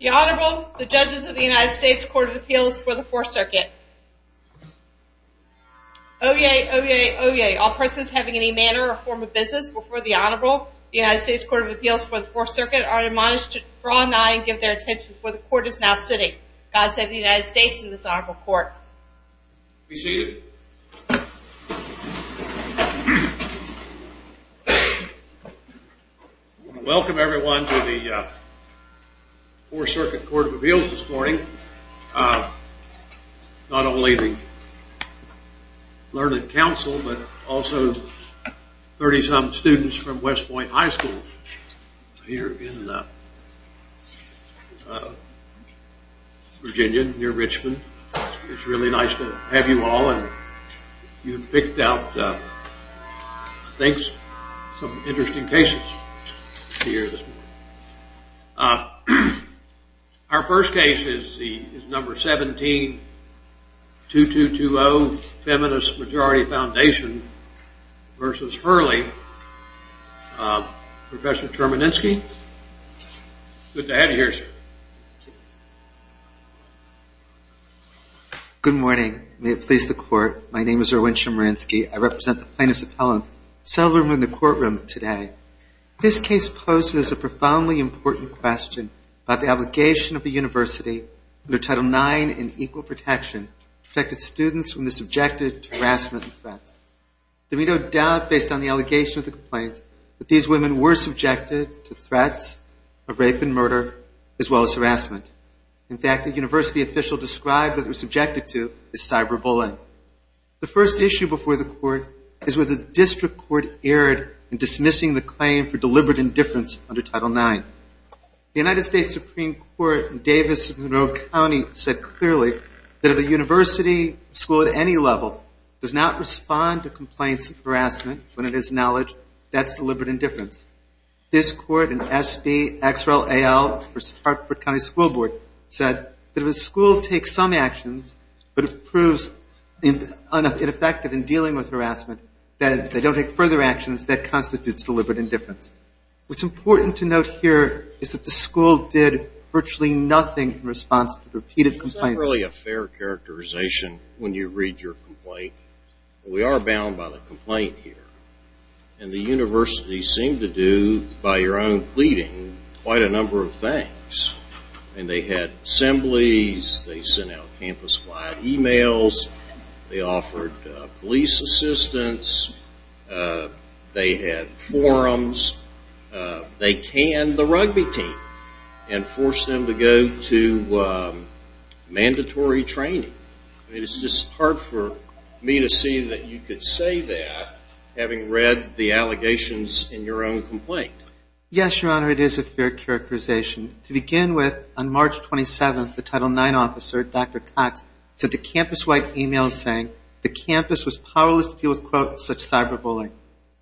The Honorable, the Judges of the United States Court of Appeals for the Fourth Circuit. Oyez! Oyez! Oyez! All persons having any manner or form of business before the Honorable, the United States Court of Appeals for the Fourth Circuit, are admonished to draw nigh and give their attention, for the Court is now sitting. God save the United States and this Honorable Court. Be seated. I want to welcome everyone to the Fourth Circuit Court of Appeals this morning. Not only the Learned Counsel, but also 30-some students from West Point High School here in Virginia near Richmond. It's really nice to have you all and you've picked out, I think, some interesting cases to hear this morning. Our first case is number 17, 2220 Feminist Majority Foundation v. Hurley. Professor Termanensky. Good to have you here, sir. Good morning. May it please the Court. My name is Erwin Termanensky. I represent the plaintiff's appellants, seldom in the courtroom today. This case poses a profoundly important question about the obligation of a university under Title IX in equal protection to protect its students from the subjected to harassment and threats. There is no doubt, based on the allegation of the complaints, that these women were subjected to threats of rape and murder, as well as harassment. In fact, a university official described what they were subjected to as cyber-bullying. The first issue before the Court is whether the District Court erred in dismissing the claim for deliberate indifference under Title IX. The United States Supreme Court in Davis-Monroe County said clearly that if a university or school at any level does not respond to complaints of harassment, when it is knowledge, that's deliberate indifference. This Court in SBXLAL v. Hartford County School Board said that if a school takes some actions, but it proves ineffective in dealing with harassment, that they don't take further actions, that constitutes deliberate indifference. What's important to note here is that the school did virtually nothing in response to the repeated complaints. It's not really a fair characterization when you read your complaint, but we are bound by the complaint here. And the university seemed to do, by your own pleading, quite a number of things. And they had assemblies, they sent out campus-wide emails, they offered police assistance, they had forums, they canned the rugby team and forced them to go to mandatory training. I mean, it's just hard for me to see that you could say that, having read the allegations in your own complaint. Yes, Your Honor, it is a fair characterization. To begin with, on March 27th, the Title IX officer, Dr. Cox, sent a campus-wide email saying the campus was powerless to deal with, quote, such cyberbullying.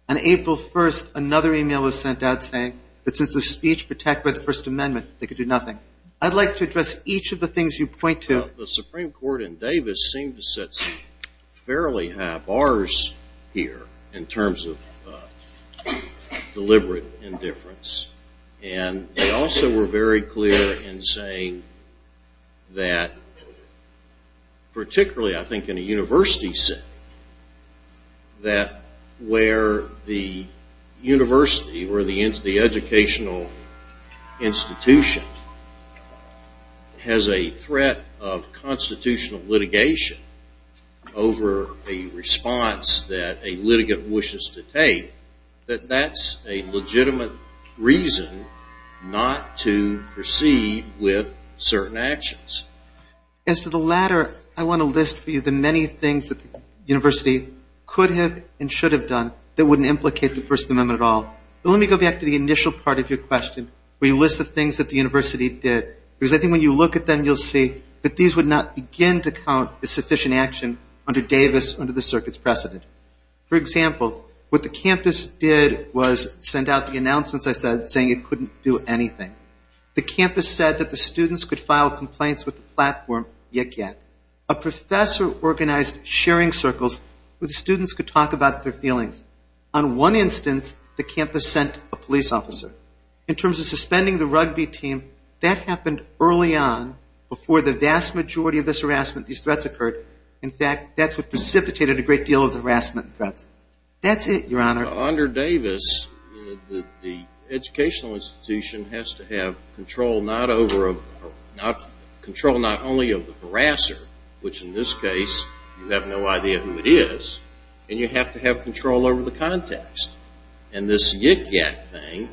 On April 1st, another email was sent out saying that since the speech protected by the First Amendment, they could do nothing. I'd like to address each of the things you point to. Well, the Supreme Court in Davis seemed to set fairly high bars here in terms of deliberate indifference. And they also were very clear in saying that, particularly I think in a university setting, that where the university or the educational institution has a threat of constitutional litigation over a response that a litigant wishes to take, that that's a legitimate reason not to proceed with certain actions. As to the latter, I want to list for you the many things that the university could have and should have done that wouldn't implicate the First Amendment at all. But let me go back to the initial part of your question, where you list the things that the university did. Because I think when you look at them, you'll see that these would not begin to count as sufficient action under Davis, under the circuit's precedent. For example, what the campus did was send out the announcements I said, saying it couldn't do anything. The campus said that the students could file complaints with the platform Yik Yak. A professor organized sharing circles where the students could talk about their feelings. On one instance, the campus sent a police officer. In terms of suspending the rugby team, that happened early on before the vast majority of this harassment, these threats occurred. In fact, that's what precipitated a great deal of the harassment threats. That's it, Your Honor. Under Davis, the educational institution has to have control not only of the harasser, which in this case you have no idea who it is, and you have to have control over the context. And this Yik Yak thing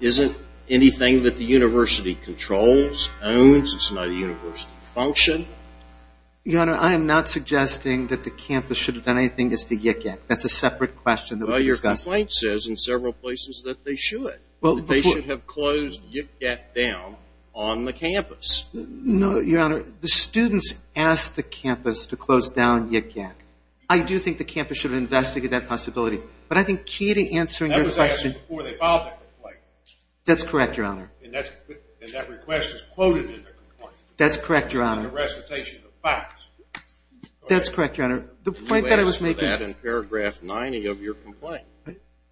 isn't anything that the university controls, owns. It's not a university function. Your Honor, I am not suggesting that the campus should have done anything as to Yik Yak. That's a separate question that we can discuss. Well, your complaint says in several places that they should. They should have closed Yik Yak down on the campus. No, Your Honor. The students asked the campus to close down Yik Yak. I do think the campus should have investigated that possibility. But I think key to answering your question— That was asked before they filed the complaint. That's correct, Your Honor. And that request is quoted in the complaint. In the recitation of the facts. That's correct, Your Honor. You asked for that in paragraph 90 of your complaint.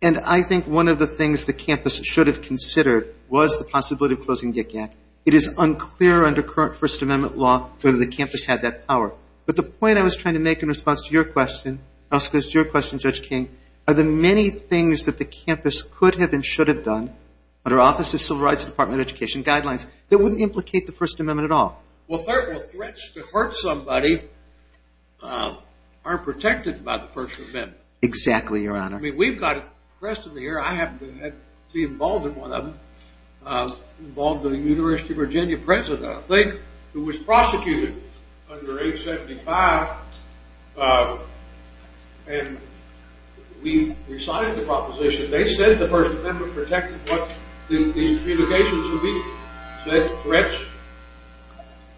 And I think one of the things the campus should have considered was the possibility of closing Yik Yak. It is unclear under current First Amendment law whether the campus had that power. But the point I was trying to make in response to your question, and also in response to your question, Judge King, are the many things that the campus could have and should have done under Office of Civil Rights and Department of Education guidelines that wouldn't implicate the First Amendment at all. Well, threats to hurt somebody aren't protected by the First Amendment. Exactly, Your Honor. I mean, we've got—the rest of the year, I have been involved in one of them. Involved with the University of Virginia president, I think, who was prosecuted under 875. And we resigned the proposition. They said the First Amendment protected what the allegations would be. They said threats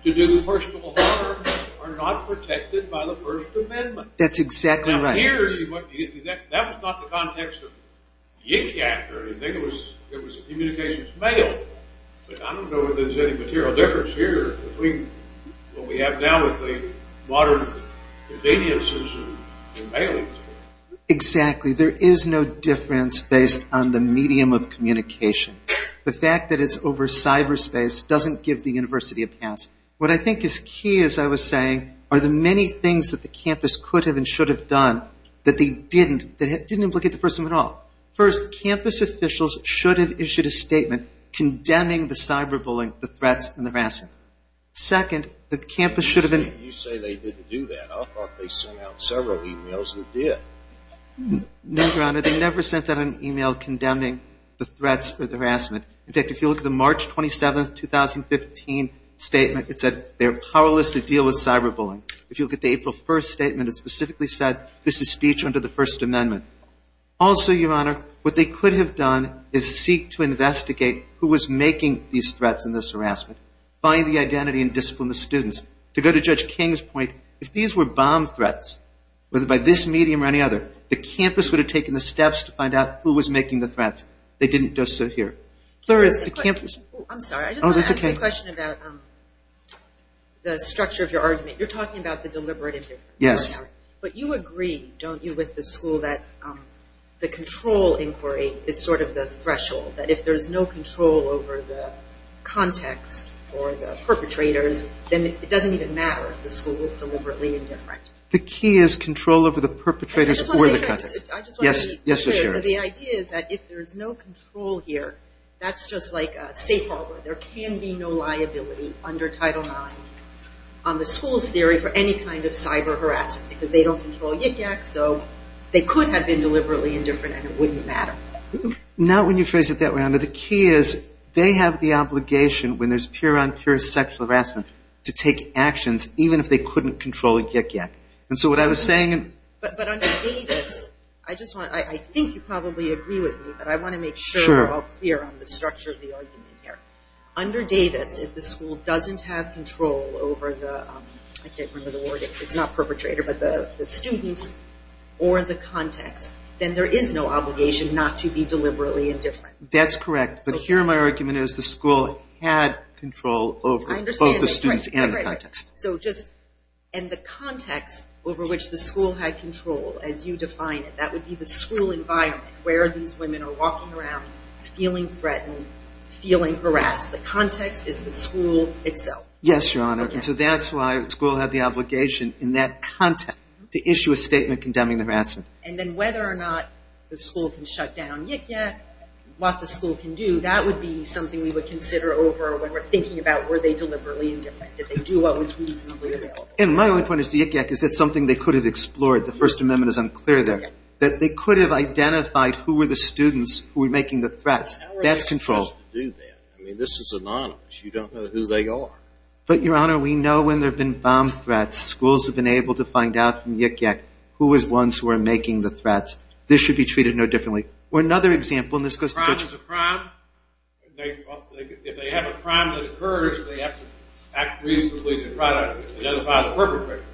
to do personal harm are not protected by the First Amendment. That's exactly right. Now, here, that was not the context of Yik Yak or anything. It was communications mail. But I don't know if there's any material difference here between what we have now with the modern conveniences of mailings. Exactly. There is no difference based on the medium of communication. The fact that it's over cyberspace doesn't give the university a pass. What I think is key, as I was saying, are the many things that the campus could have and should have done that didn't implicate the First Amendment at all. First, campus officials should have issued a statement condemning the cyberbullying, the threats, and the harassment. Second, the campus should have— You say they didn't do that. I thought they sent out several emails that did. No, Your Honor. No, they never sent out an email condemning the threats or the harassment. In fact, if you look at the March 27, 2015 statement, it said they're powerless to deal with cyberbullying. If you look at the April 1 statement, it specifically said, this is speech under the First Amendment. Also, Your Honor, what they could have done is seek to investigate who was making these threats and this harassment, find the identity and discipline of the students. To go to Judge King's point, if these were bomb threats, whether by this medium or any other, the campus would have taken the steps to find out who was making the threats. They didn't just sit here. Third, the campus— I'm sorry. I just want to ask you a question about the structure of your argument. You're talking about the deliberate indifference. Yes. But you agree, don't you, with the school that the control inquiry is sort of the threshold, that if there's no control over the context or the perpetrators, then it doesn't even matter if the school is deliberately indifferent. The key is control over the perpetrators or the context. I just want to make sure. Yes. So the idea is that if there's no control here, that's just like a safe harbor. There can be no liability under Title IX on the school's theory for any kind of cyber harassment because they don't control Yik Yak, so they could have been deliberately indifferent, and it wouldn't matter. Not when you phrase it that way, Your Honor. The key is they have the obligation when there's peer-on-peer sexual harassment to take actions even if they couldn't control Yik Yak. But under Davis, I think you probably agree with me, but I want to make sure we're all clear on the structure of the argument here. Under Davis, if the school doesn't have control over the students or the context, then there is no obligation not to be deliberately indifferent. That's correct. But here my argument is the school had control over both the students and the context. So just in the context over which the school had control, as you define it, that would be the school environment where these women are walking around, feeling threatened, feeling harassed. The context is the school itself. Yes, Your Honor. So that's why the school had the obligation in that context to issue a statement condemning the harassment. And then whether or not the school can shut down Yik Yak, what the school can do, that would be something we would consider over when we're thinking about were they deliberately indifferent, did they do what was reasonably available. And my only point as to Yik Yak is that's something they could have explored. The First Amendment is unclear there. That they could have identified who were the students who were making the threats. That's control. How are they supposed to do that? I mean, this is anonymous. You don't know who they are. But, Your Honor, we know when there have been bomb threats, schools have been able to find out from Yik Yak who was the ones who were making the threats. This should be treated no differently. Or another example, and this goes to the judge. A crime is a crime. If they have a crime that occurs, they have to act reasonably to try to identify the perpetrator.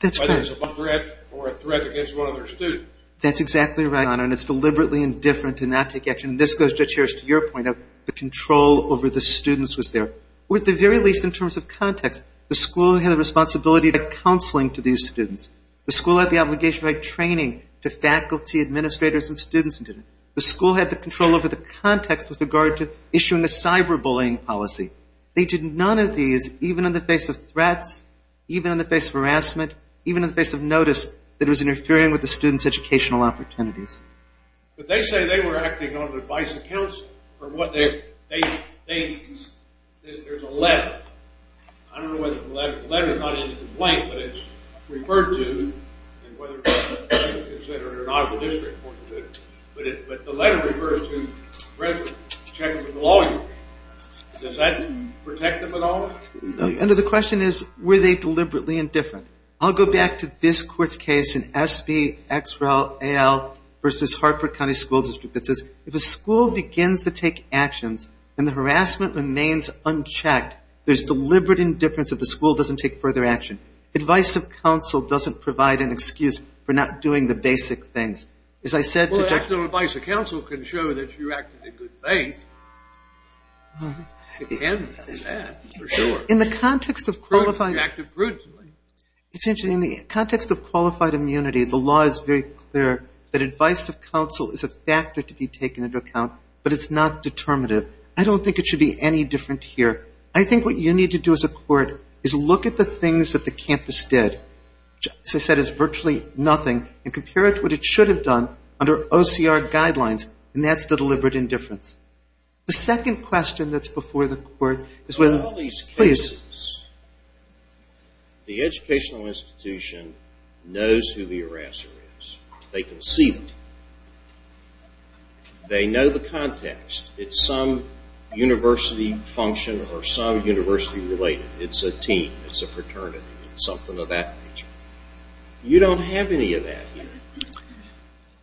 That's correct. Whether it's a threat or a threat against one of their students. That's exactly right, Your Honor. And it's deliberately indifferent to not take action. And this goes, Judge Harris, to your point of the control over the students was there. Or at the very least in terms of context, the school had a responsibility to counseling to these students. The school had the obligation to provide training to faculty, administrators, and students. The school had the control over the context with regard to issuing a cyber-bullying policy. They did none of these, even in the face of threats, even in the face of harassment, even in the face of notice that was interfering with the students' educational opportunities. There's a letter. I don't know whether it's a letter. The letter is not in the complaint, but it's referred to, and whether it's considered an audible district or not. But the letter refers to a resident, a lawyer. Does that protect them at all? The question is, were they deliberately indifferent? I'll go back to this court's case in SBXLAL versus Hartford County School District. It says, if a school begins to take actions and the harassment remains unchecked, there's deliberate indifference if the school doesn't take further action. Advice of counsel doesn't provide an excuse for not doing the basic things. As I said to Judge- Well, the advice of counsel can show that you acted in good faith. It can, for sure. In the context of qualified- You acted prudently. Potentially, in the context of qualified immunity, the law is very clear that advice of counsel is a factor to be taken into account, but it's not determinative. I don't think it should be any different here. I think what you need to do as a court is look at the things that the campus did, which, as I said, is virtually nothing, and compare it to what it should have done under OCR guidelines, and that's the deliberate indifference. The second question that's before the court is whether- The educational institution knows who the harasser is. They can see that. They know the context. It's some university function or some university related. It's a team. It's a fraternity. It's something of that nature. You don't have any of that here.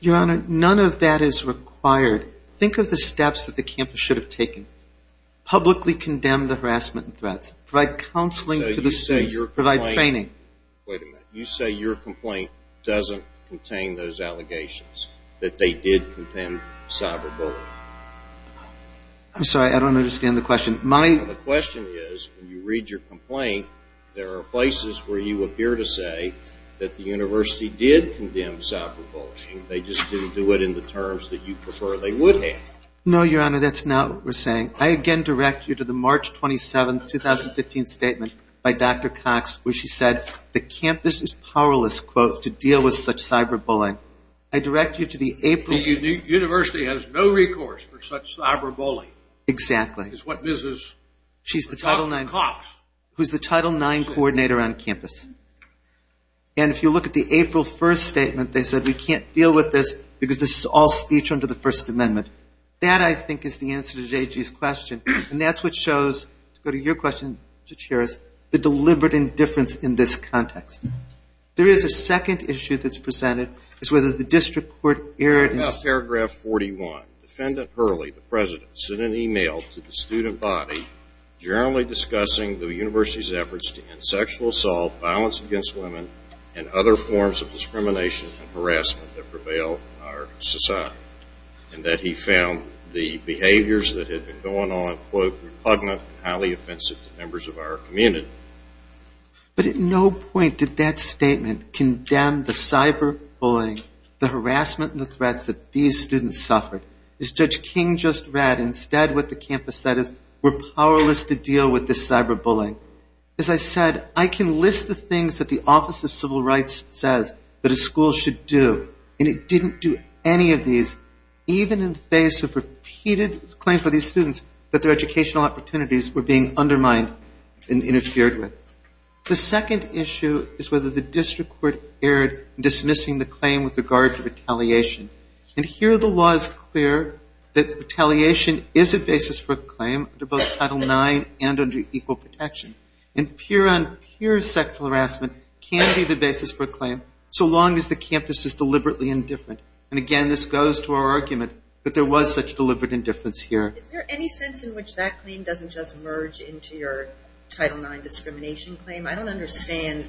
Your Honor, none of that is required. Think of the steps that the campus should have taken. Publicly condemn the harassment and threats. Provide counseling to the students. Provide training. Wait a minute. You say your complaint doesn't contain those allegations that they did condemn cyberbullying. I'm sorry. I don't understand the question. The question is, when you read your complaint, there are places where you appear to say that the university did condemn cyberbullying. They just didn't do it in the terms that you prefer they would have. No, Your Honor. That's not what we're saying. I again direct you to the March 27, 2015 statement by Dr. Cox where she said, the campus is powerless, quote, to deal with such cyberbullying. I direct you to the April. The university has no recourse for such cyberbullying. Exactly. Is what Mrs. Cox. She's the Title IX coordinator on campus. And if you look at the April 1 statement, they said, we can't deal with this because this is all speech under the First Amendment. That, I think, is the answer to J.G.'s question. And that's what shows, to go to your question, Judge Harris, the deliberate indifference in this context. There is a second issue that's presented. It's whether the district court erred. Paragraph 41. Defendant Hurley, the president, sent an email to the student body generally discussing the university's efforts to end sexual assault, violence against women, and other forms of discrimination and harassment that prevail in our society. And that he found the behaviors that had been going on, quote, repugnant and highly offensive to members of our community. But at no point did that statement condemn the cyberbullying, the harassment and the threats that these students suffered. As Judge King just read, instead what the campus said is, we're powerless to deal with this cyberbullying. As I said, I can list the things that the Office of Civil Rights says that a school should do. And it didn't do any of these, even in the face of repeated claims by these students that their educational opportunities were being undermined and interfered with. The second issue is whether the district court erred in dismissing the claim with regard to retaliation. And here the law is clear that retaliation is a basis for a claim under both Title IX and under equal protection. And peer-on-peer sexual harassment can be the basis for a claim so long as the campus is deliberately indifferent. And again, this goes to our argument that there was such deliberate indifference here. Is there any sense in which that claim doesn't just merge into your Title IX discrimination claim? I don't understand.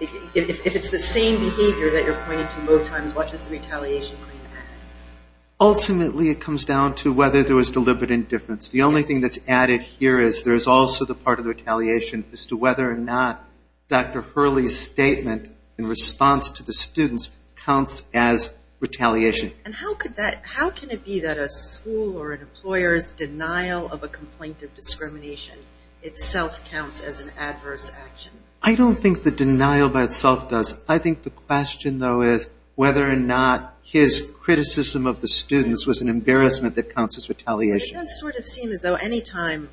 If it's the same behavior that you're pointing to both times, what does the retaliation claim add? Ultimately it comes down to whether there was deliberate indifference. The only thing that's added here is there's also the part of the retaliation argument as to whether or not Dr. Hurley's statement in response to the students counts as retaliation. And how can it be that a school or an employer's denial of a complaint of discrimination itself counts as an adverse action? I don't think the denial by itself does. I think the question, though, is whether or not his criticism of the students was an embarrassment that counts as retaliation. It does sort of seem as though any time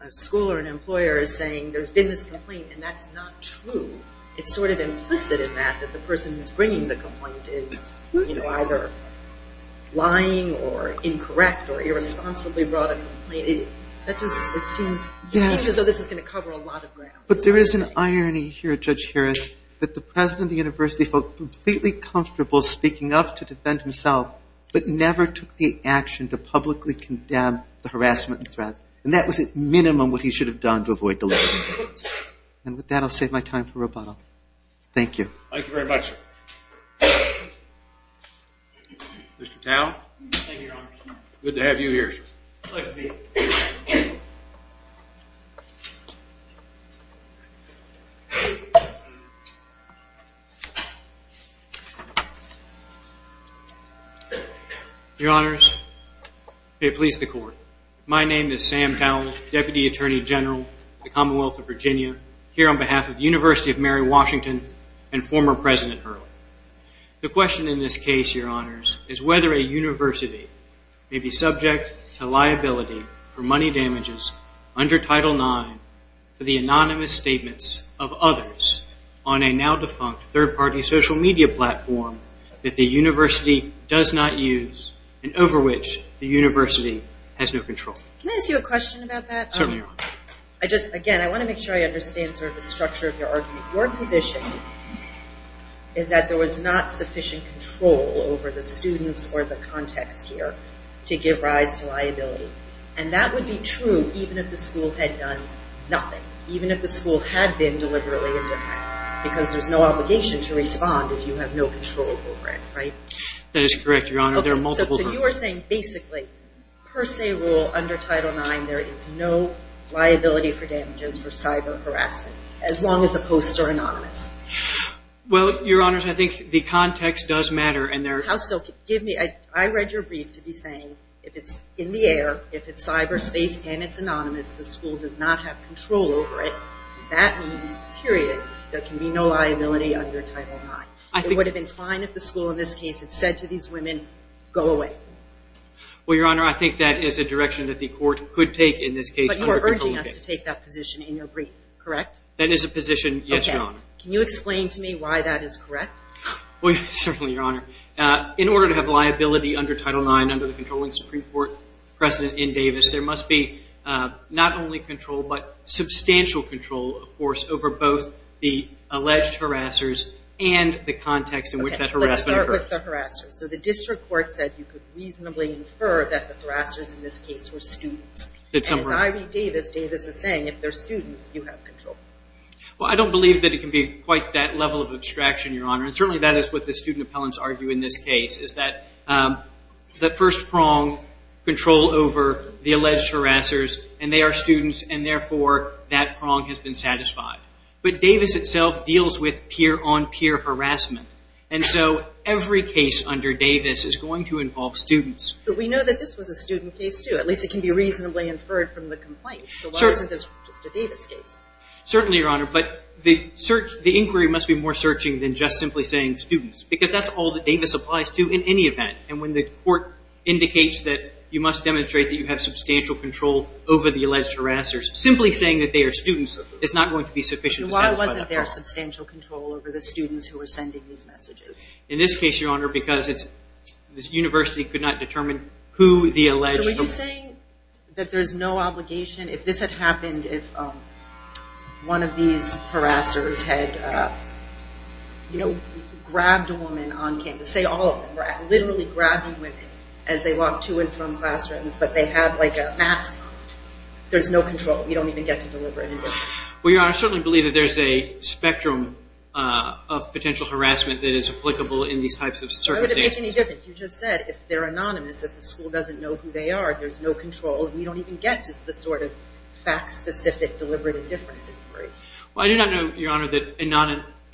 a school or an employer is saying there's been this complaint and that's not true, it's sort of implicit in that that the person who's bringing the complaint is either lying or incorrect or irresponsibly brought a complaint. It seems as though this is going to cover a lot of ground. But there is an irony here, Judge Harris, that the president of the university felt completely comfortable speaking up to defend himself but never took the action to publicly condemn the harassment and threats, and that was at minimum what he should have done to avoid delay. And with that, I'll save my time for rebuttal. Thank you. Thank you very much, sir. Mr. Tao? Good to have you here, sir. Pleasure to be here. Your Honors, may it please the Court, my name is Sam Towle, Deputy Attorney General of the Commonwealth of Virginia, here on behalf of the University of Mary Washington and former President Hurley. The question in this case, Your Honors, is whether a university may be subject to liability for money damages under Title IX for the anonymous statements of others on a now-defunct third-party social media platform that the university does not use and over which the university has no control. Can I ask you a question about that? Certainly, Your Honor. Again, I want to make sure I understand sort of the structure of your argument. Your position is that there was not sufficient control over the students or the context here to give rise to liability. And that would be true even if the school had done nothing, even if the school had been deliberately indifferent, because there's no obligation to respond if you have no control over it, right? That is correct, Your Honor. So you are saying basically, per se rule, under Title IX, there is no liability for damages for cyber harassment, as long as the posts are anonymous? Well, Your Honors, I think the context does matter. How so? I read your brief to be saying if it's in the air, if it's cyberspace and it's anonymous, the school does not have control over it. That means, period, there can be no liability under Title IX. It would have been fine if the school in this case had said to these women, go away. Well, Your Honor, I think that is a direction that the court could take in this case. But you are urging us to take that position in your brief, correct? That is a position, yes, Your Honor. Okay. Can you explain to me why that is correct? Well, certainly, Your Honor. In order to have liability under Title IX, under the controlling Supreme Court precedent in Davis, there must be not only control but substantial control, of course, over both the alleged harassers and the context in which that harassment occurred. Okay. Let's start with the harassers. So the district court said you could reasonably infer that the harassers in this case were students. And as I read Davis, Davis is saying if they're students, you have control. Well, I don't believe that it can be quite that level of abstraction, Your Honor. And certainly that is what the student appellants argue in this case, is that the first prong control over the alleged harassers and they are students and, therefore, that prong has been satisfied. But Davis itself deals with peer-on-peer harassment. And so every case under Davis is going to involve students. But we know that this was a student case, too. At least it can be reasonably inferred from the complaint. So why isn't this just a Davis case? Certainly, Your Honor. But the inquiry must be more searching than just simply saying students because that's all that Davis applies to in any event. And when the court indicates that you must demonstrate that you have substantial control over the alleged harassers, simply saying that they are students is not going to be sufficient. Why wasn't there substantial control over the students who were sending these messages? So are you saying that there's no obligation? If this had happened, if one of these harassers had, you know, grabbed a woman on campus, say all of them were literally grabbing women as they walked to and from classrooms, but they had like a mask on, there's no control. You don't even get to deliver anything. Well, Your Honor, I certainly believe that there's a spectrum of potential harassment that is applicable in these types of circumstances. Why would it make any difference? Like you just said, if they're anonymous, if the school doesn't know who they are, there's no control. We don't even get to the sort of fact-specific deliberate indifference inquiry. Well, I do not know, Your Honor, that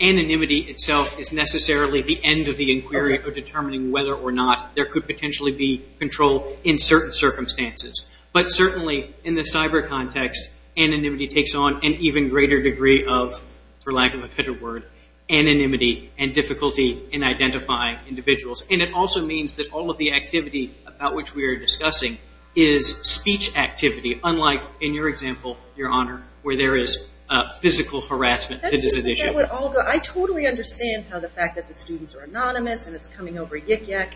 anonymity itself is necessarily the end of the inquiry of determining whether or not there could potentially be control in certain circumstances. But certainly in the cyber context, anonymity takes on an even greater degree of, for lack of a better word, anonymity and difficulty in identifying individuals. And it also means that all of the activity about which we are discussing is speech activity, unlike in your example, Your Honor, where there is physical harassment that is an issue. I totally understand how the fact that the students are anonymous and it's coming over yik-yak.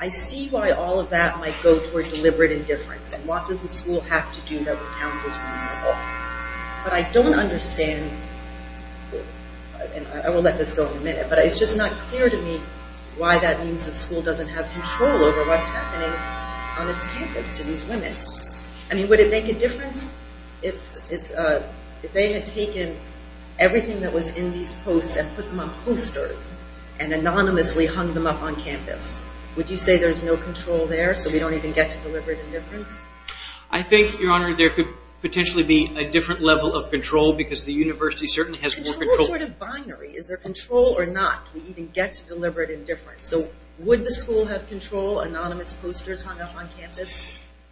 I see why all of that might go toward deliberate indifference. And what does the school have to do that would count as reasonable? But I don't understand, and I will let this go in a minute, but it's just not clear to me why that means the school doesn't have control over what's happening on its campus to these women. I mean, would it make a difference if they had taken everything that was in these posts and put them on posters and anonymously hung them up on campus? Would you say there's no control there so we don't even get to deliberate indifference? I think, Your Honor, there could potentially be a different level of control because the university certainly has more control. What sort of binary? Is there control or not? Do we even get to deliberate indifference? So would the school have control, anonymous posters hung up on campus?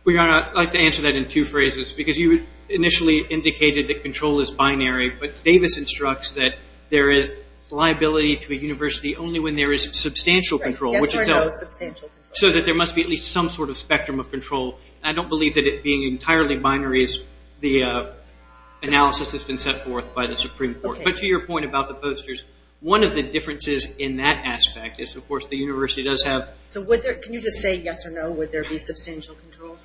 Well, Your Honor, I'd like to answer that in two phrases because you initially indicated that control is binary, but Davis instructs that there is liability to a university only when there is substantial control. Yes or no, substantial control. So that there must be at least some sort of spectrum of control. I don't believe that it being entirely binary is the analysis that's been set forth by the Supreme Court. But to your point about the posters, one of the differences in that aspect is, of course, the university does have... So can you just say yes or no, would there be substantial control?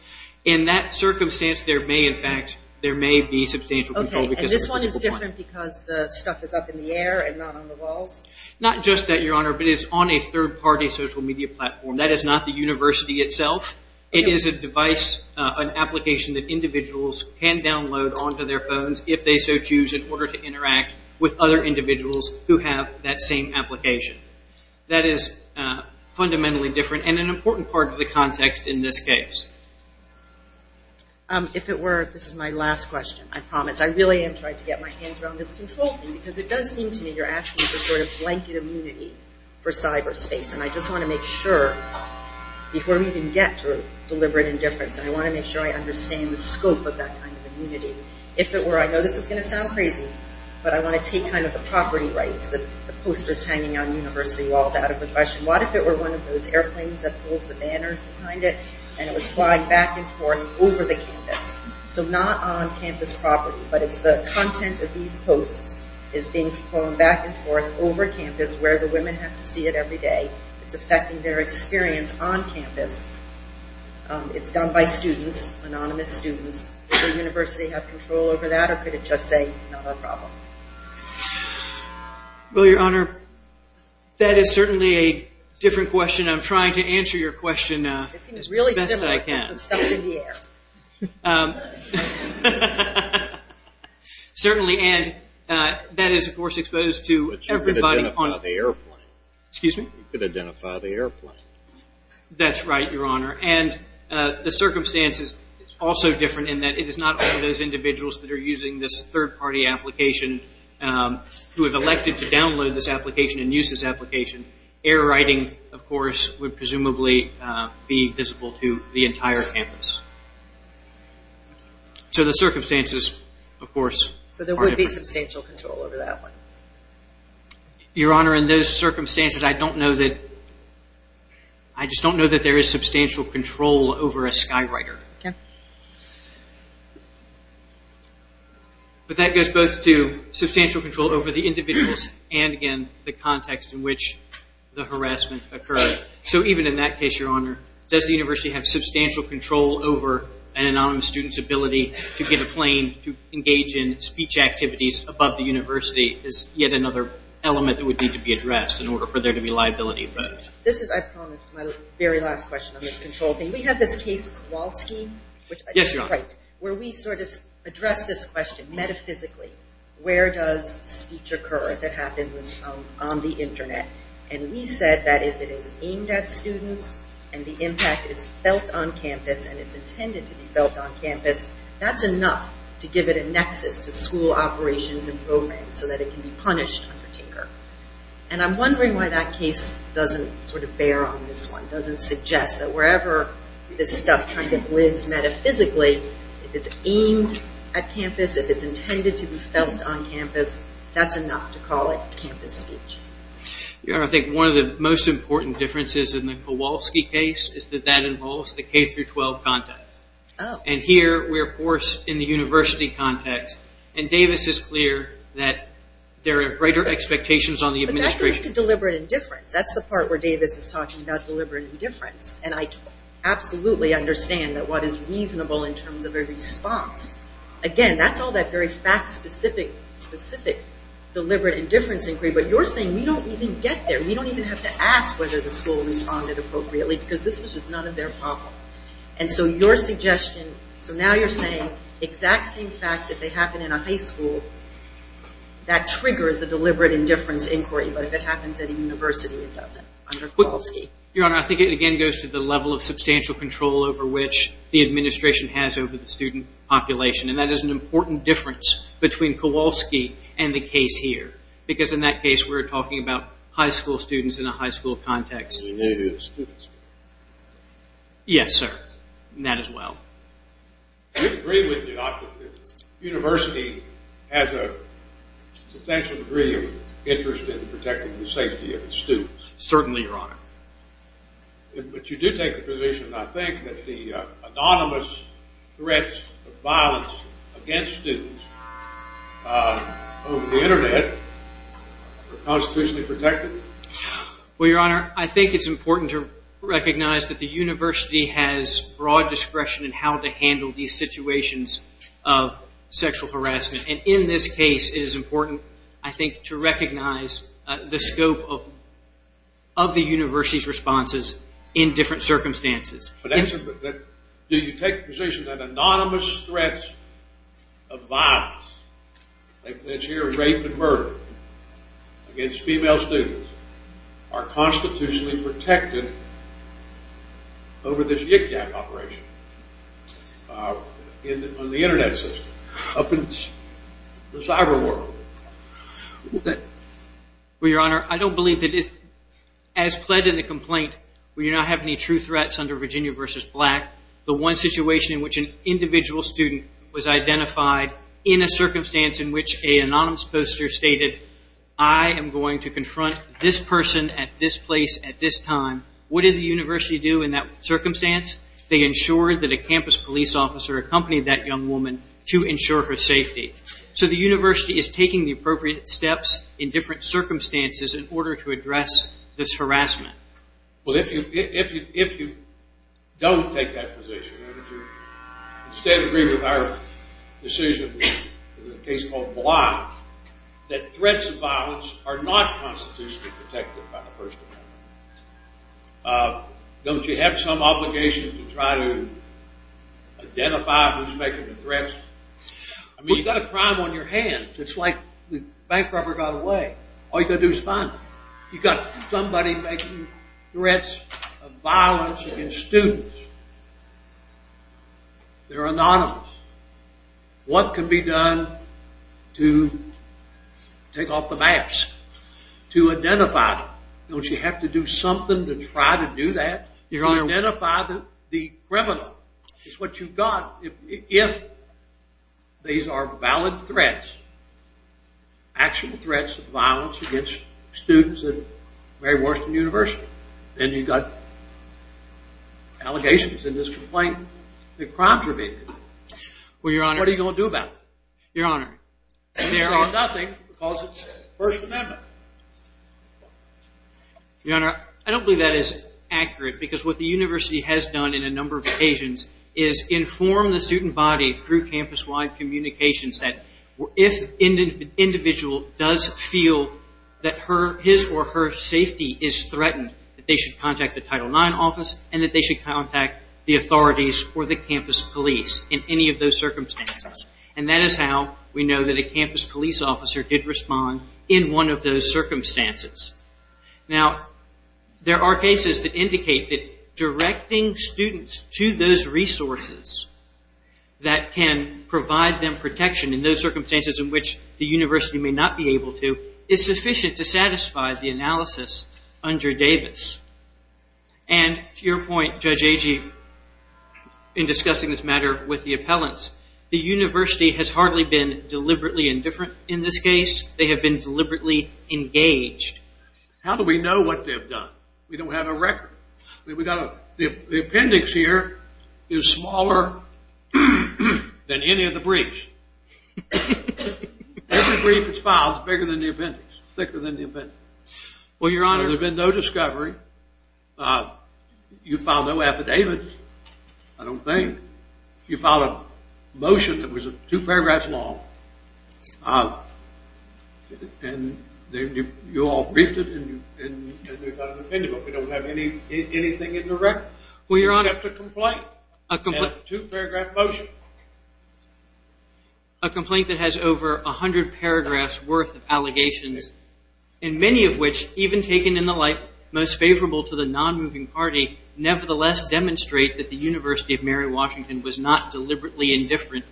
In that circumstance, there may, in fact, there may be substantial control. Okay, and this one is different because the stuff is up in the air and not on the walls? Not just that, Your Honor, but it's on a third-party social media platform. That is not the university itself. It is a device, an application that individuals can download onto their phones if they so choose in order to interact with other individuals who have that same application. That is fundamentally different and an important part of the context in this case. If it were, this is my last question, I promise. I really am trying to get my hands around this control thing because it does seem to me you're asking for sort of blanket immunity for cyberspace. And I just want to make sure, before we even get to deliberate indifference, I want to make sure I understand the scope of that kind of immunity. If it were, I know this is going to sound crazy, but I want to take kind of the property rights, the posters hanging on university walls out of aggression. What if it were one of those airplanes that pulls the banners behind it and it was flying back and forth over the campus? So not on campus property, but it's the content of these posts is being flown back and forth over campus where the women have to see it every day. It's affecting their experience on campus. It's done by students, anonymous students. Does the university have control over that, or could it just say not a problem? Well, Your Honor, that is certainly a different question. I'm trying to answer your question as best I can. It seems really similar. It's the stuff in the air. Certainly, and that is, of course, exposed to everybody. But you could identify the airplane. Excuse me? You could identify the airplane. That's right, Your Honor. And the circumstances are also different in that it is not only those individuals that are using this third-party application who have elected to download this application and use this application. Air writing, of course, would presumably be visible to the entire campus. So the circumstances, of course, are different. So there would be substantial control over that one? Your Honor, in those circumstances, I just don't know that there is substantial control over a skywriter. Okay. But that goes both to substantial control over the individuals and, again, the context in which the harassment occurred. So even in that case, Your Honor, does the university have substantial control over an anonymous student's ability to get a plane to engage in speech activities above the university is yet another element that would need to be addressed in order for there to be liability. This is, I promise, my very last question on this control thing. We have this case wall scheme. Yes, Your Honor. Right, where we sort of address this question metaphysically. Where does speech occur if it happens on the Internet? And we said that if it is aimed at students and the impact is felt on campus and it's intended to be felt on campus, that's enough to give it a nexus to school operations and programs so that it can be punished under Tinker. And I'm wondering why that case doesn't sort of bear on this one, doesn't suggest that wherever this stuff kind of lives metaphysically, if it's aimed at campus, if it's intended to be felt on campus, that's enough to call it campus speech. Your Honor, I think one of the most important differences in the Kowalski case is that that involves the K-12 context. Oh. And here we're, of course, in the university context. And Davis is clear that there are greater expectations on the administration. But that goes to deliberate indifference. That's the part where Davis is talking about deliberate indifference. And I absolutely understand that what is reasonable in terms of a response. Again, that's all that very fact-specific deliberate indifference inquiry. But you're saying we don't even get there. We don't even have to ask whether the school responded appropriately because this was just none of their problem. And so your suggestion, so now you're saying exact same facts if they happen in a high school, that triggers a deliberate indifference inquiry. But if it happens at a university, it doesn't under Kowalski. Your Honor, I think it, again, goes to the level of substantial control over which the administration has over the student population. And that is an important difference between Kowalski and the case here because in that case, we're talking about high school students in a high school context. And maybe the students. Yes, sir. That as well. Do you agree with me, Doctor, that the university has a substantial degree of interest in protecting the safety of its students? Certainly, Your Honor. But you do take the position, I think, that the anonymous threats of violence against students over the Internet are constitutionally protected? Well, Your Honor, I think it's important to recognize that the university has broad discretion in how to handle these situations of sexual harassment. And in this case, it is important, I think, to recognize the scope of the university's responses in different circumstances. But do you take the position that anonymous threats of violence, like this here rape and murder against female students, are constitutionally protected over this IPCAP operation on the Internet system, up in the cyber world? Well, Your Honor, I don't believe that, as pled in the complaint, we do not have any true threats under Virginia v. Black. The one situation in which an individual student was identified in a circumstance in which an anonymous poster stated, I am going to confront this person at this place at this time. What did the university do in that circumstance? They ensured that a campus police officer accompanied that young woman to ensure her safety. So the university is taking the appropriate steps in different circumstances in order to address this harassment. Well, if you don't take that position, Your Honor, would you instead agree with our decision in a case called Bly, that threats of violence are not constitutionally protected by the First Amendment? Don't you have some obligation to try to identify who's making the threats? I mean, you've got a crime on your hands. It's like the bank robber got away. All you've got to do is find him. You've got somebody making threats of violence against students. They're anonymous. What can be done to take off the mask, to identify them? Don't you have to do something to try to do that, to identify the criminal? It's what you've got if these are valid threats, actual threats of violence against students at Mary Worcester University. Then you've got allegations in this complaint that crimes are being committed. What are you going to do about it? There is nothing because it's the First Amendment. Your Honor, I don't believe that is accurate because what the university has done in a number of occasions is inform the student body through campus-wide communications that if an individual does feel that his or her safety is threatened, that they should contact the Title IX office and that they should contact the authorities or the campus police in any of those circumstances. That is how we know that a campus police officer did respond in one of those circumstances. There are cases that indicate that directing students to those resources that can provide them protection in those circumstances in which the university may not be able to is sufficient to satisfy the analysis under Davis. And to your point, Judge Agee, in discussing this matter with the appellants, the university has hardly been deliberately indifferent in this case. They have been deliberately engaged. How do we know what they've done? We don't have a record. The appendix here is smaller than any of the briefs. Every brief that's filed is bigger than the appendix. Thicker than the appendix. Well, Your Honor, there's been no discovery. You filed no affidavits, I don't think. You filed a motion that was two paragraphs long. And you all briefed it and there's not an appendix. We don't have anything in the record except a complaint and a two-paragraph motion. A complaint that has over 100 paragraphs worth of allegations and many of which, even taken in the light most favorable to the non-moving party, nevertheless demonstrate that the University of Mary Washington was not deliberately indifferent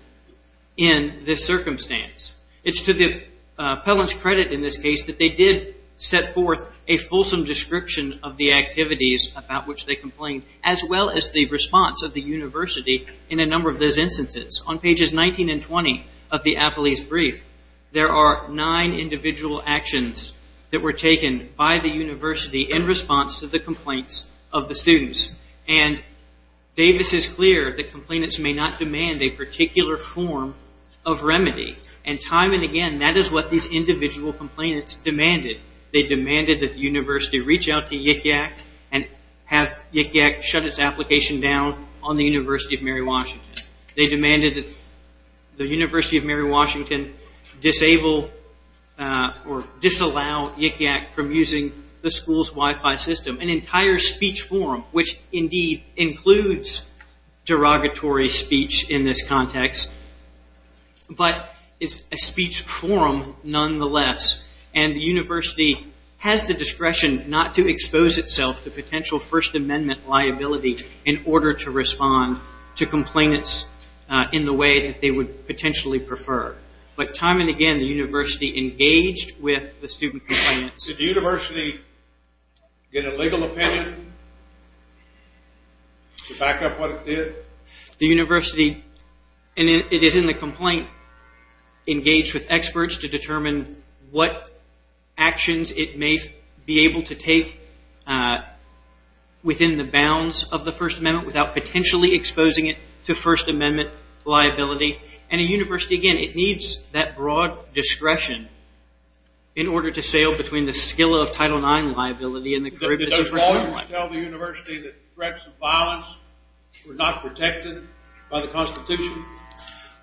in this circumstance. It's to the appellant's credit in this case that they did set forth a fulsome description of the activities about which they complained as well as the response of the university in a number of those instances. On pages 19 and 20 of the appellee's brief, there are nine individual actions that were taken by the university in response to the complaints of the students. And Davis is clear that complainants may not demand a particular form of remedy. And time and again, that is what these individual complainants demanded. They demanded that the university reach out to Yik Yak and have Yik Yak shut its application down on the University of Mary Washington. They demanded that the University of Mary Washington disable or disallow Yik Yak from using the school's Wi-Fi system. An entire speech forum, which indeed includes derogatory speech in this context, but is a speech forum nonetheless. And the university has the discretion not to expose itself to potential First Amendment liability in order to respond to complainants in the way that they would potentially prefer. But time and again, the university engaged with the student complainants. Did the university get a legal opinion to back up what it did? The university, and it is in the complaint, engaged with experts to determine what actions it may be able to take within the bounds of the First Amendment without potentially exposing it to First Amendment liability. And a university, again, it needs that broad discretion in order to sail between the skill of Title IX liability and the career business of Title IX. Did those lawyers tell the university that threats of violence were not protected by the Constitution?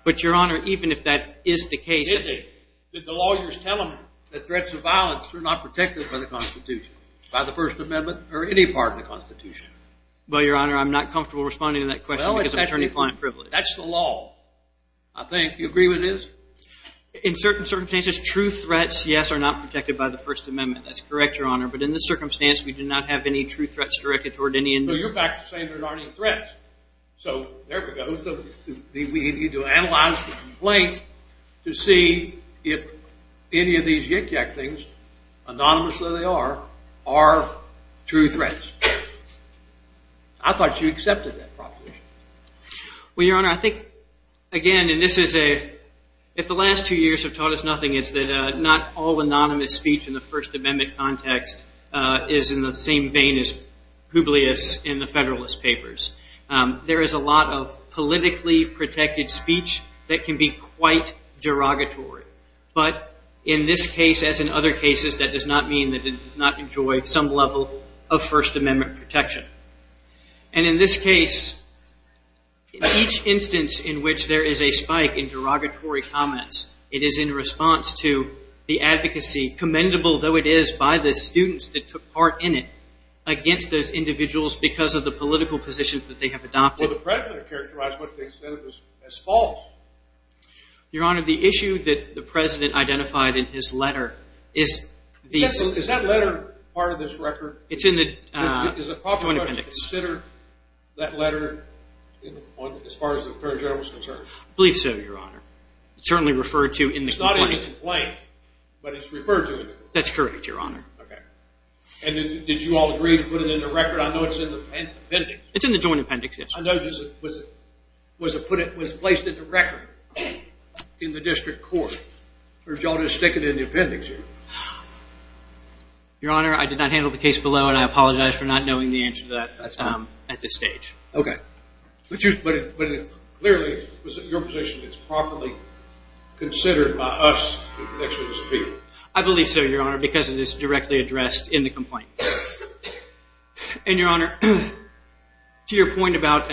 But, Your Honor, even if that is the case, did the lawyers tell them that threats of violence were not protected by the Constitution, by the First Amendment, or any part of the Constitution? Well, Your Honor, I'm not comfortable responding to that question because of attorney-client privilege. That's the law, I think. Do you agree with this? In certain circumstances, true threats, yes, are not protected by the First Amendment. That's correct, Your Honor. But in this circumstance, we do not have any true threats directed toward any individual. So you're back to saying there aren't any threats. So there we go. We need to analyze the complaint to see if any of these yik-yak things, anonymously they are, are true threats. I thought you accepted that proposition. Well, Your Honor, I think, again, and this is a, if the last two years have taught us nothing, it's that not all anonymous speech in the First Amendment context is in the same vein as Publius in the Federalist Papers. There is a lot of politically protected speech that can be quite derogatory. But in this case, as in other cases, that does not mean that it has not enjoyed some level of First Amendment protection. And in this case, each instance in which there is a spike in derogatory comments, it is in response to the advocacy, commendable though it is by the students that took part in it, against those individuals because of the political positions that they have adopted. Well, the President characterized what they said as false. Your Honor, the issue that the President identified in his letter is the… Is that letter part of this record? It's in the Joint Appendix. Is it proper to consider that letter as far as the Attorney General is concerned? I believe so, Your Honor. It's certainly referred to in the complaint. It's not in the complaint, but it's referred to in the complaint. That's correct, Your Honor. Okay. And did you all agree to put it in the record? I know it's in the appendix. It's in the Joint Appendix, yes. I noticed it was placed in the record in the District Court. Or did you all just stick it in the appendix here? Your Honor, I did not handle the case below, and I apologize for not knowing the answer to that at this stage. Okay. But clearly, your position is properly considered by us as experts of people. I believe so, Your Honor, because it is directly addressed in the complaint. And, Your Honor, to your point about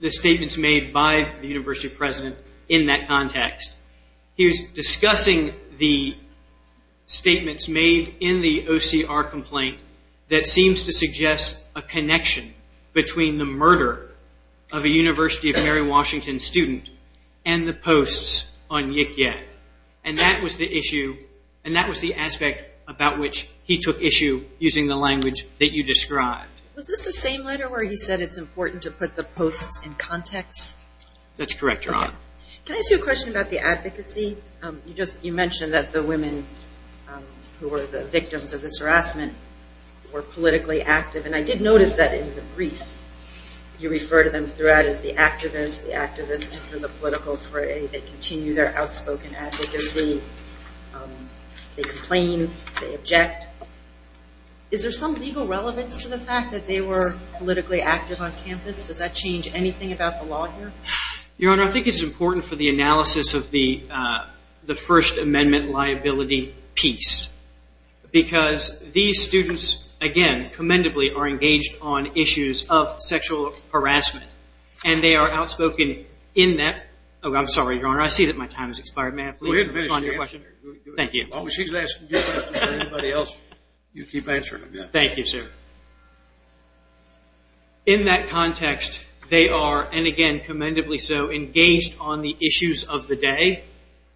the statements made by the University President in that context, he was discussing the statements made in the OCR complaint that seems to suggest a connection between the murder of a University of Mary Washington student and the posts on Yik-Yak. And that was the issue, and that was the aspect about which he took issue, using the language that you described. Was this the same letter where he said it's important to put the posts in context? That's correct, Your Honor. Can I ask you a question about the advocacy? You mentioned that the women who were the victims of this harassment were politically active, and I did notice that in the brief you refer to them throughout as the activists, the activists in the political fray. They continue their outspoken advocacy. They complain. They object. Is there some legal relevance to the fact that they were politically active on campus? Does that change anything about the law here? Your Honor, I think it's important for the analysis of the First Amendment liability piece because these students, again, commendably are engaged on issues of sexual harassment, and they are outspoken in that. Oh, I'm sorry, Your Honor. I see that my time has expired. May I please respond to your question? Thank you. Well, she's asking good questions. Anybody else, you keep answering them. Thank you, sir. In that context, they are, and again, commendably so, engaged on the issues of the day,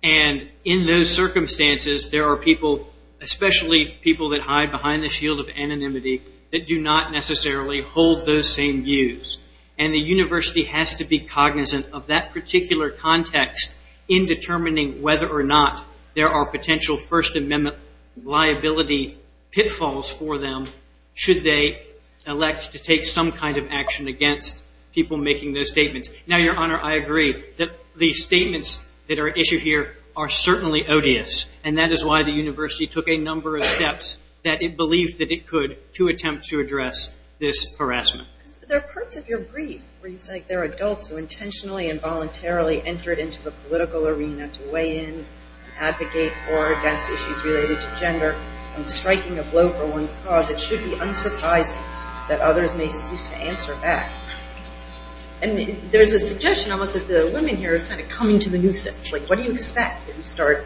and in those circumstances, there are people, especially people that hide behind the shield of anonymity, that do not necessarily hold those same views. And the university has to be cognizant of that particular context in determining whether or not there are potential First Amendment liability pitfalls for them should they elect to take some kind of action against people making those statements. Now, Your Honor, I agree that the statements that are at issue here are certainly odious, and that is why the university took a number of steps that it believed that it could to attempt to address this harassment. There are parts of your brief where you say there are adults who intentionally and voluntarily entered into the political arena to weigh in, advocate for or against issues related to gender, and striking a blow for one's cause. It should be unsurprising that others may seek to answer back. And there's a suggestion almost that the women here are kind of coming to the nuisance. Like, what do you expect? You start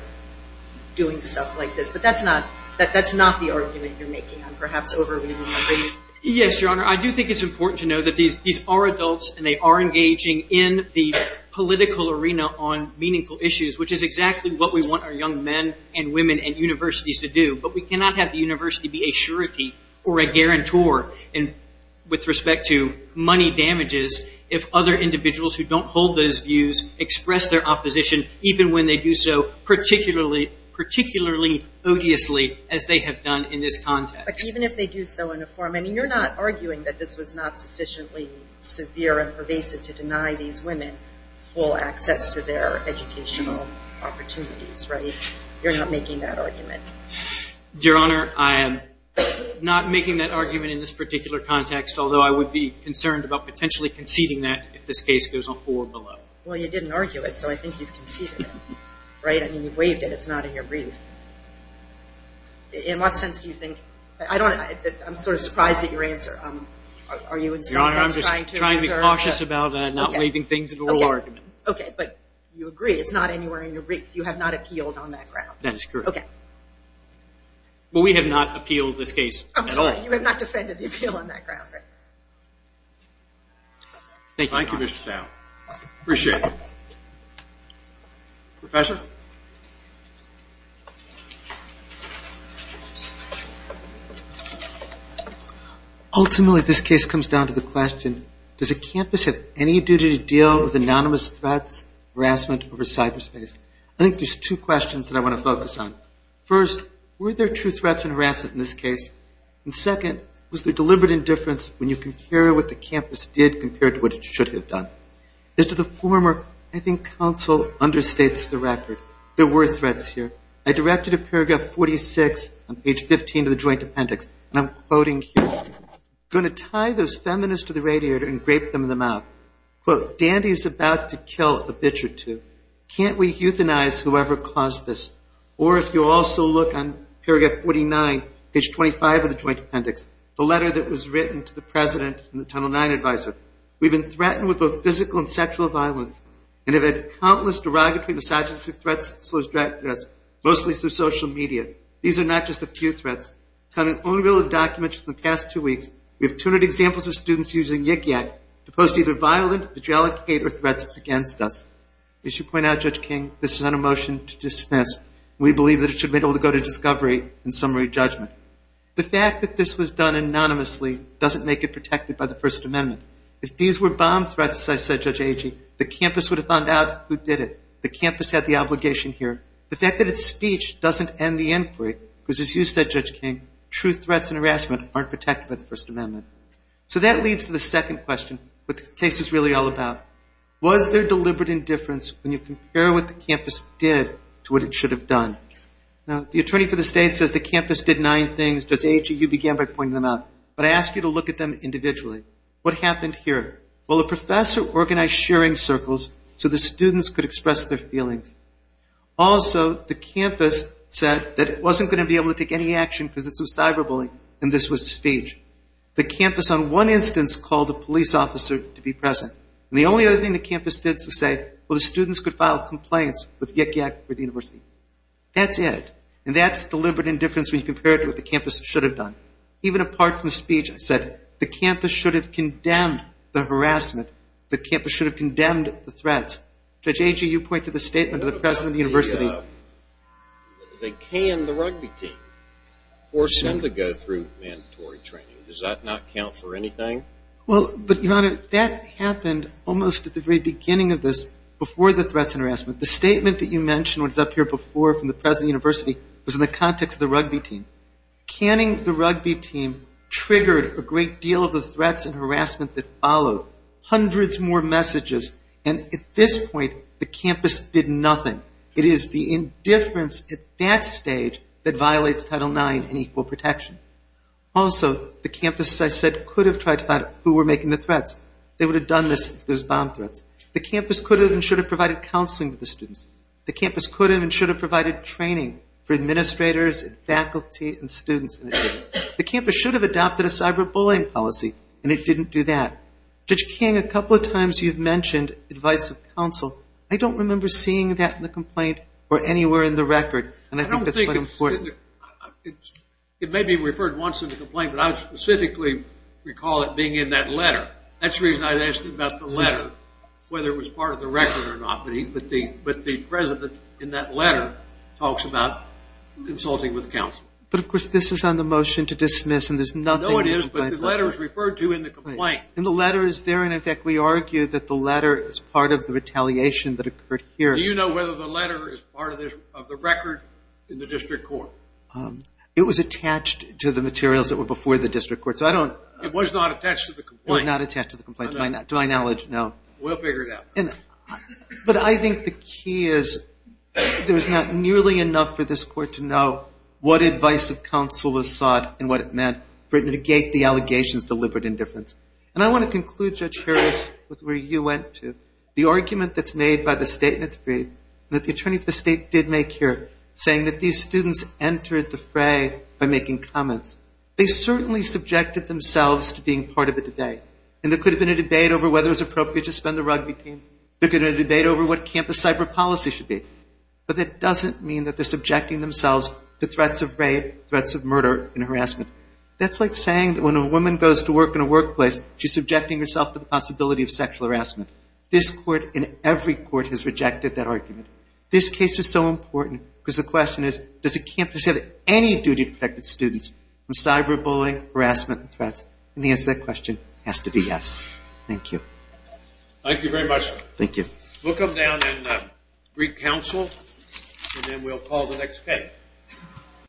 doing stuff like this. But that's not the argument you're making. I'm perhaps over-reading my brief. Yes, Your Honor. I do think it's important to know that these are adults, and they are engaging in the political arena on meaningful issues, which is exactly what we want our young men and women and universities to do. But we cannot have the university be a surety or a guarantor with respect to money damages if other individuals who don't hold those views express their opposition, even when they do so particularly odiously, as they have done in this context. But even if they do so in a form, I mean, you're not arguing that this was not sufficiently severe and pervasive to deny these women full access to their educational opportunities, right? You're not making that argument. Your Honor, I am not making that argument in this particular context, although I would be concerned about potentially conceding that if this case goes on forward below. Well, you didn't argue it, so I think you've conceded it. Right? I mean, you've waived it. It's not in your brief. In what sense do you think? I don't know. I'm sort of surprised at your answer. Your Honor, I'm just trying to be cautious about not waiving things in the oral argument. Okay. But you agree it's not anywhere in your brief. You have not appealed on that ground. That is correct. Okay. But we have not appealed this case at all. I'm sorry. You have not defended the appeal on that ground, right? Thank you, Your Honor. Thank you, Mr. Stout. Appreciate it. Professor? Professor? Ultimately, this case comes down to the question, does a campus have any duty to deal with anonymous threats, harassment over cyberspace? I think there's two questions that I want to focus on. First, were there true threats and harassment in this case? And second, was there deliberate indifference when you compare what the campus did compared to what it should have done? As to the former, I think counsel understates the record. There were threats here. I directed to paragraph 46 on page 15 of the joint appendix, and I'm quoting here. I'm going to tie those feminists to the radiator and grape them in the mouth. Quote, Dandy's about to kill a bitch or two. Can't we euthanize whoever caused this? Or if you also look on paragraph 49, page 25 of the joint appendix, the letter that was written to the president and the tunnel 9 advisor. We've been threatened with both physical and sexual violence and have had countless derogatory misogynistic threats directed at us, mostly through social media. These are not just a few threats. Counting only a little documents from the past two weeks, we have 200 examples of students using Yik Yak to post either violent, patriotic hate or threats against us. As you point out, Judge King, this is not a motion to dismiss. We believe that it should be able to go to discovery and summary judgment. The fact that this was done anonymously doesn't make it protected by the First Amendment. If these were bomb threats, as I said, Judge Agee, the campus would have found out who did it. The campus had the obligation here. The fact that it's speech doesn't end the inquiry, because as you said, Judge King, true threats and harassment aren't protected by the First Amendment. So that leads to the second question, what the case is really all about. Was there deliberate indifference when you compare what the campus did to what it should have done? Now, the attorney for the state says the campus did nine things. Judge Agee, you began by pointing them out. But I ask you to look at them individually. What happened here? Well, the professor organized sharing circles so the students could express their feelings. Also, the campus said that it wasn't going to be able to take any action because this was cyber bullying and this was speech. The campus on one instance called a police officer to be present. And the only other thing the campus did was say, well, the students could file complaints with Yik Yak University. That's it. And that's deliberate indifference when you compare it to what the campus should have done. Even apart from speech, I said the campus should have condemned the harassment. The campus should have condemned the threats. Judge Agee, you pointed the statement to the president of the university. They canned the rugby team, forced him to go through mandatory training. Does that not count for anything? Well, but, Your Honor, that happened almost at the very beginning of this before the threats and harassment. The statement that you mentioned was up here before from the president of the university was in the context of the rugby team. Canning the rugby team triggered a great deal of the threats and harassment that followed. Hundreds more messages. And at this point, the campus did nothing. It is the indifference at that stage that violates Title IX and equal protection. Also, the campus, as I said, could have tried to find out who were making the threats. They would have done this if there was bomb threats. The campus could have and should have provided counseling with the students. The campus could have and should have provided training for administrators and faculty and students. The campus should have adopted a cyber-bullying policy, and it didn't do that. Judge King, a couple of times you've mentioned advice of counsel. I don't remember seeing that in the complaint or anywhere in the record, and I think that's quite important. It may be referred once in the complaint, but I specifically recall it being in that letter. That's the reason I asked you about the letter, whether it was part of the record or not. But the president in that letter talks about consulting with counsel. But, of course, this is on the motion to dismiss, and there's nothing in the complaint letter. No, it is, but the letter is referred to in the complaint. And the letter is there, and, in fact, we argue that the letter is part of the retaliation that occurred here. Do you know whether the letter is part of the record in the district court? It was attached to the materials that were before the district court. It was not attached to the complaint? It was not attached to the complaint, to my knowledge, no. We'll figure it out. But I think the key is there's not nearly enough for this court to know what advice of counsel was sought and what it meant for it to negate the allegations of deliberate indifference. And I want to conclude, Judge Harris, with where you went to. The argument that's made by the state in its brief that the attorney of the state did make here, saying that these students entered the fray by making comments, they certainly subjected themselves to being part of the debate. And there could have been a debate over whether it was appropriate to spend the rugby team. There could have been a debate over what campus cyber policy should be. But that doesn't mean that they're subjecting themselves to threats of rape, threats of murder, and harassment. That's like saying that when a woman goes to work in a workplace, she's subjecting herself to the possibility of sexual harassment. This court and every court has rejected that argument. This case is so important because the question is, does the campus have any duty to protect the students from cyber bullying, harassment, and threats? And the answer to that question has to be yes. Thank you. Thank you very much. Thank you. We'll come down and read counsel, and then we'll call the next case.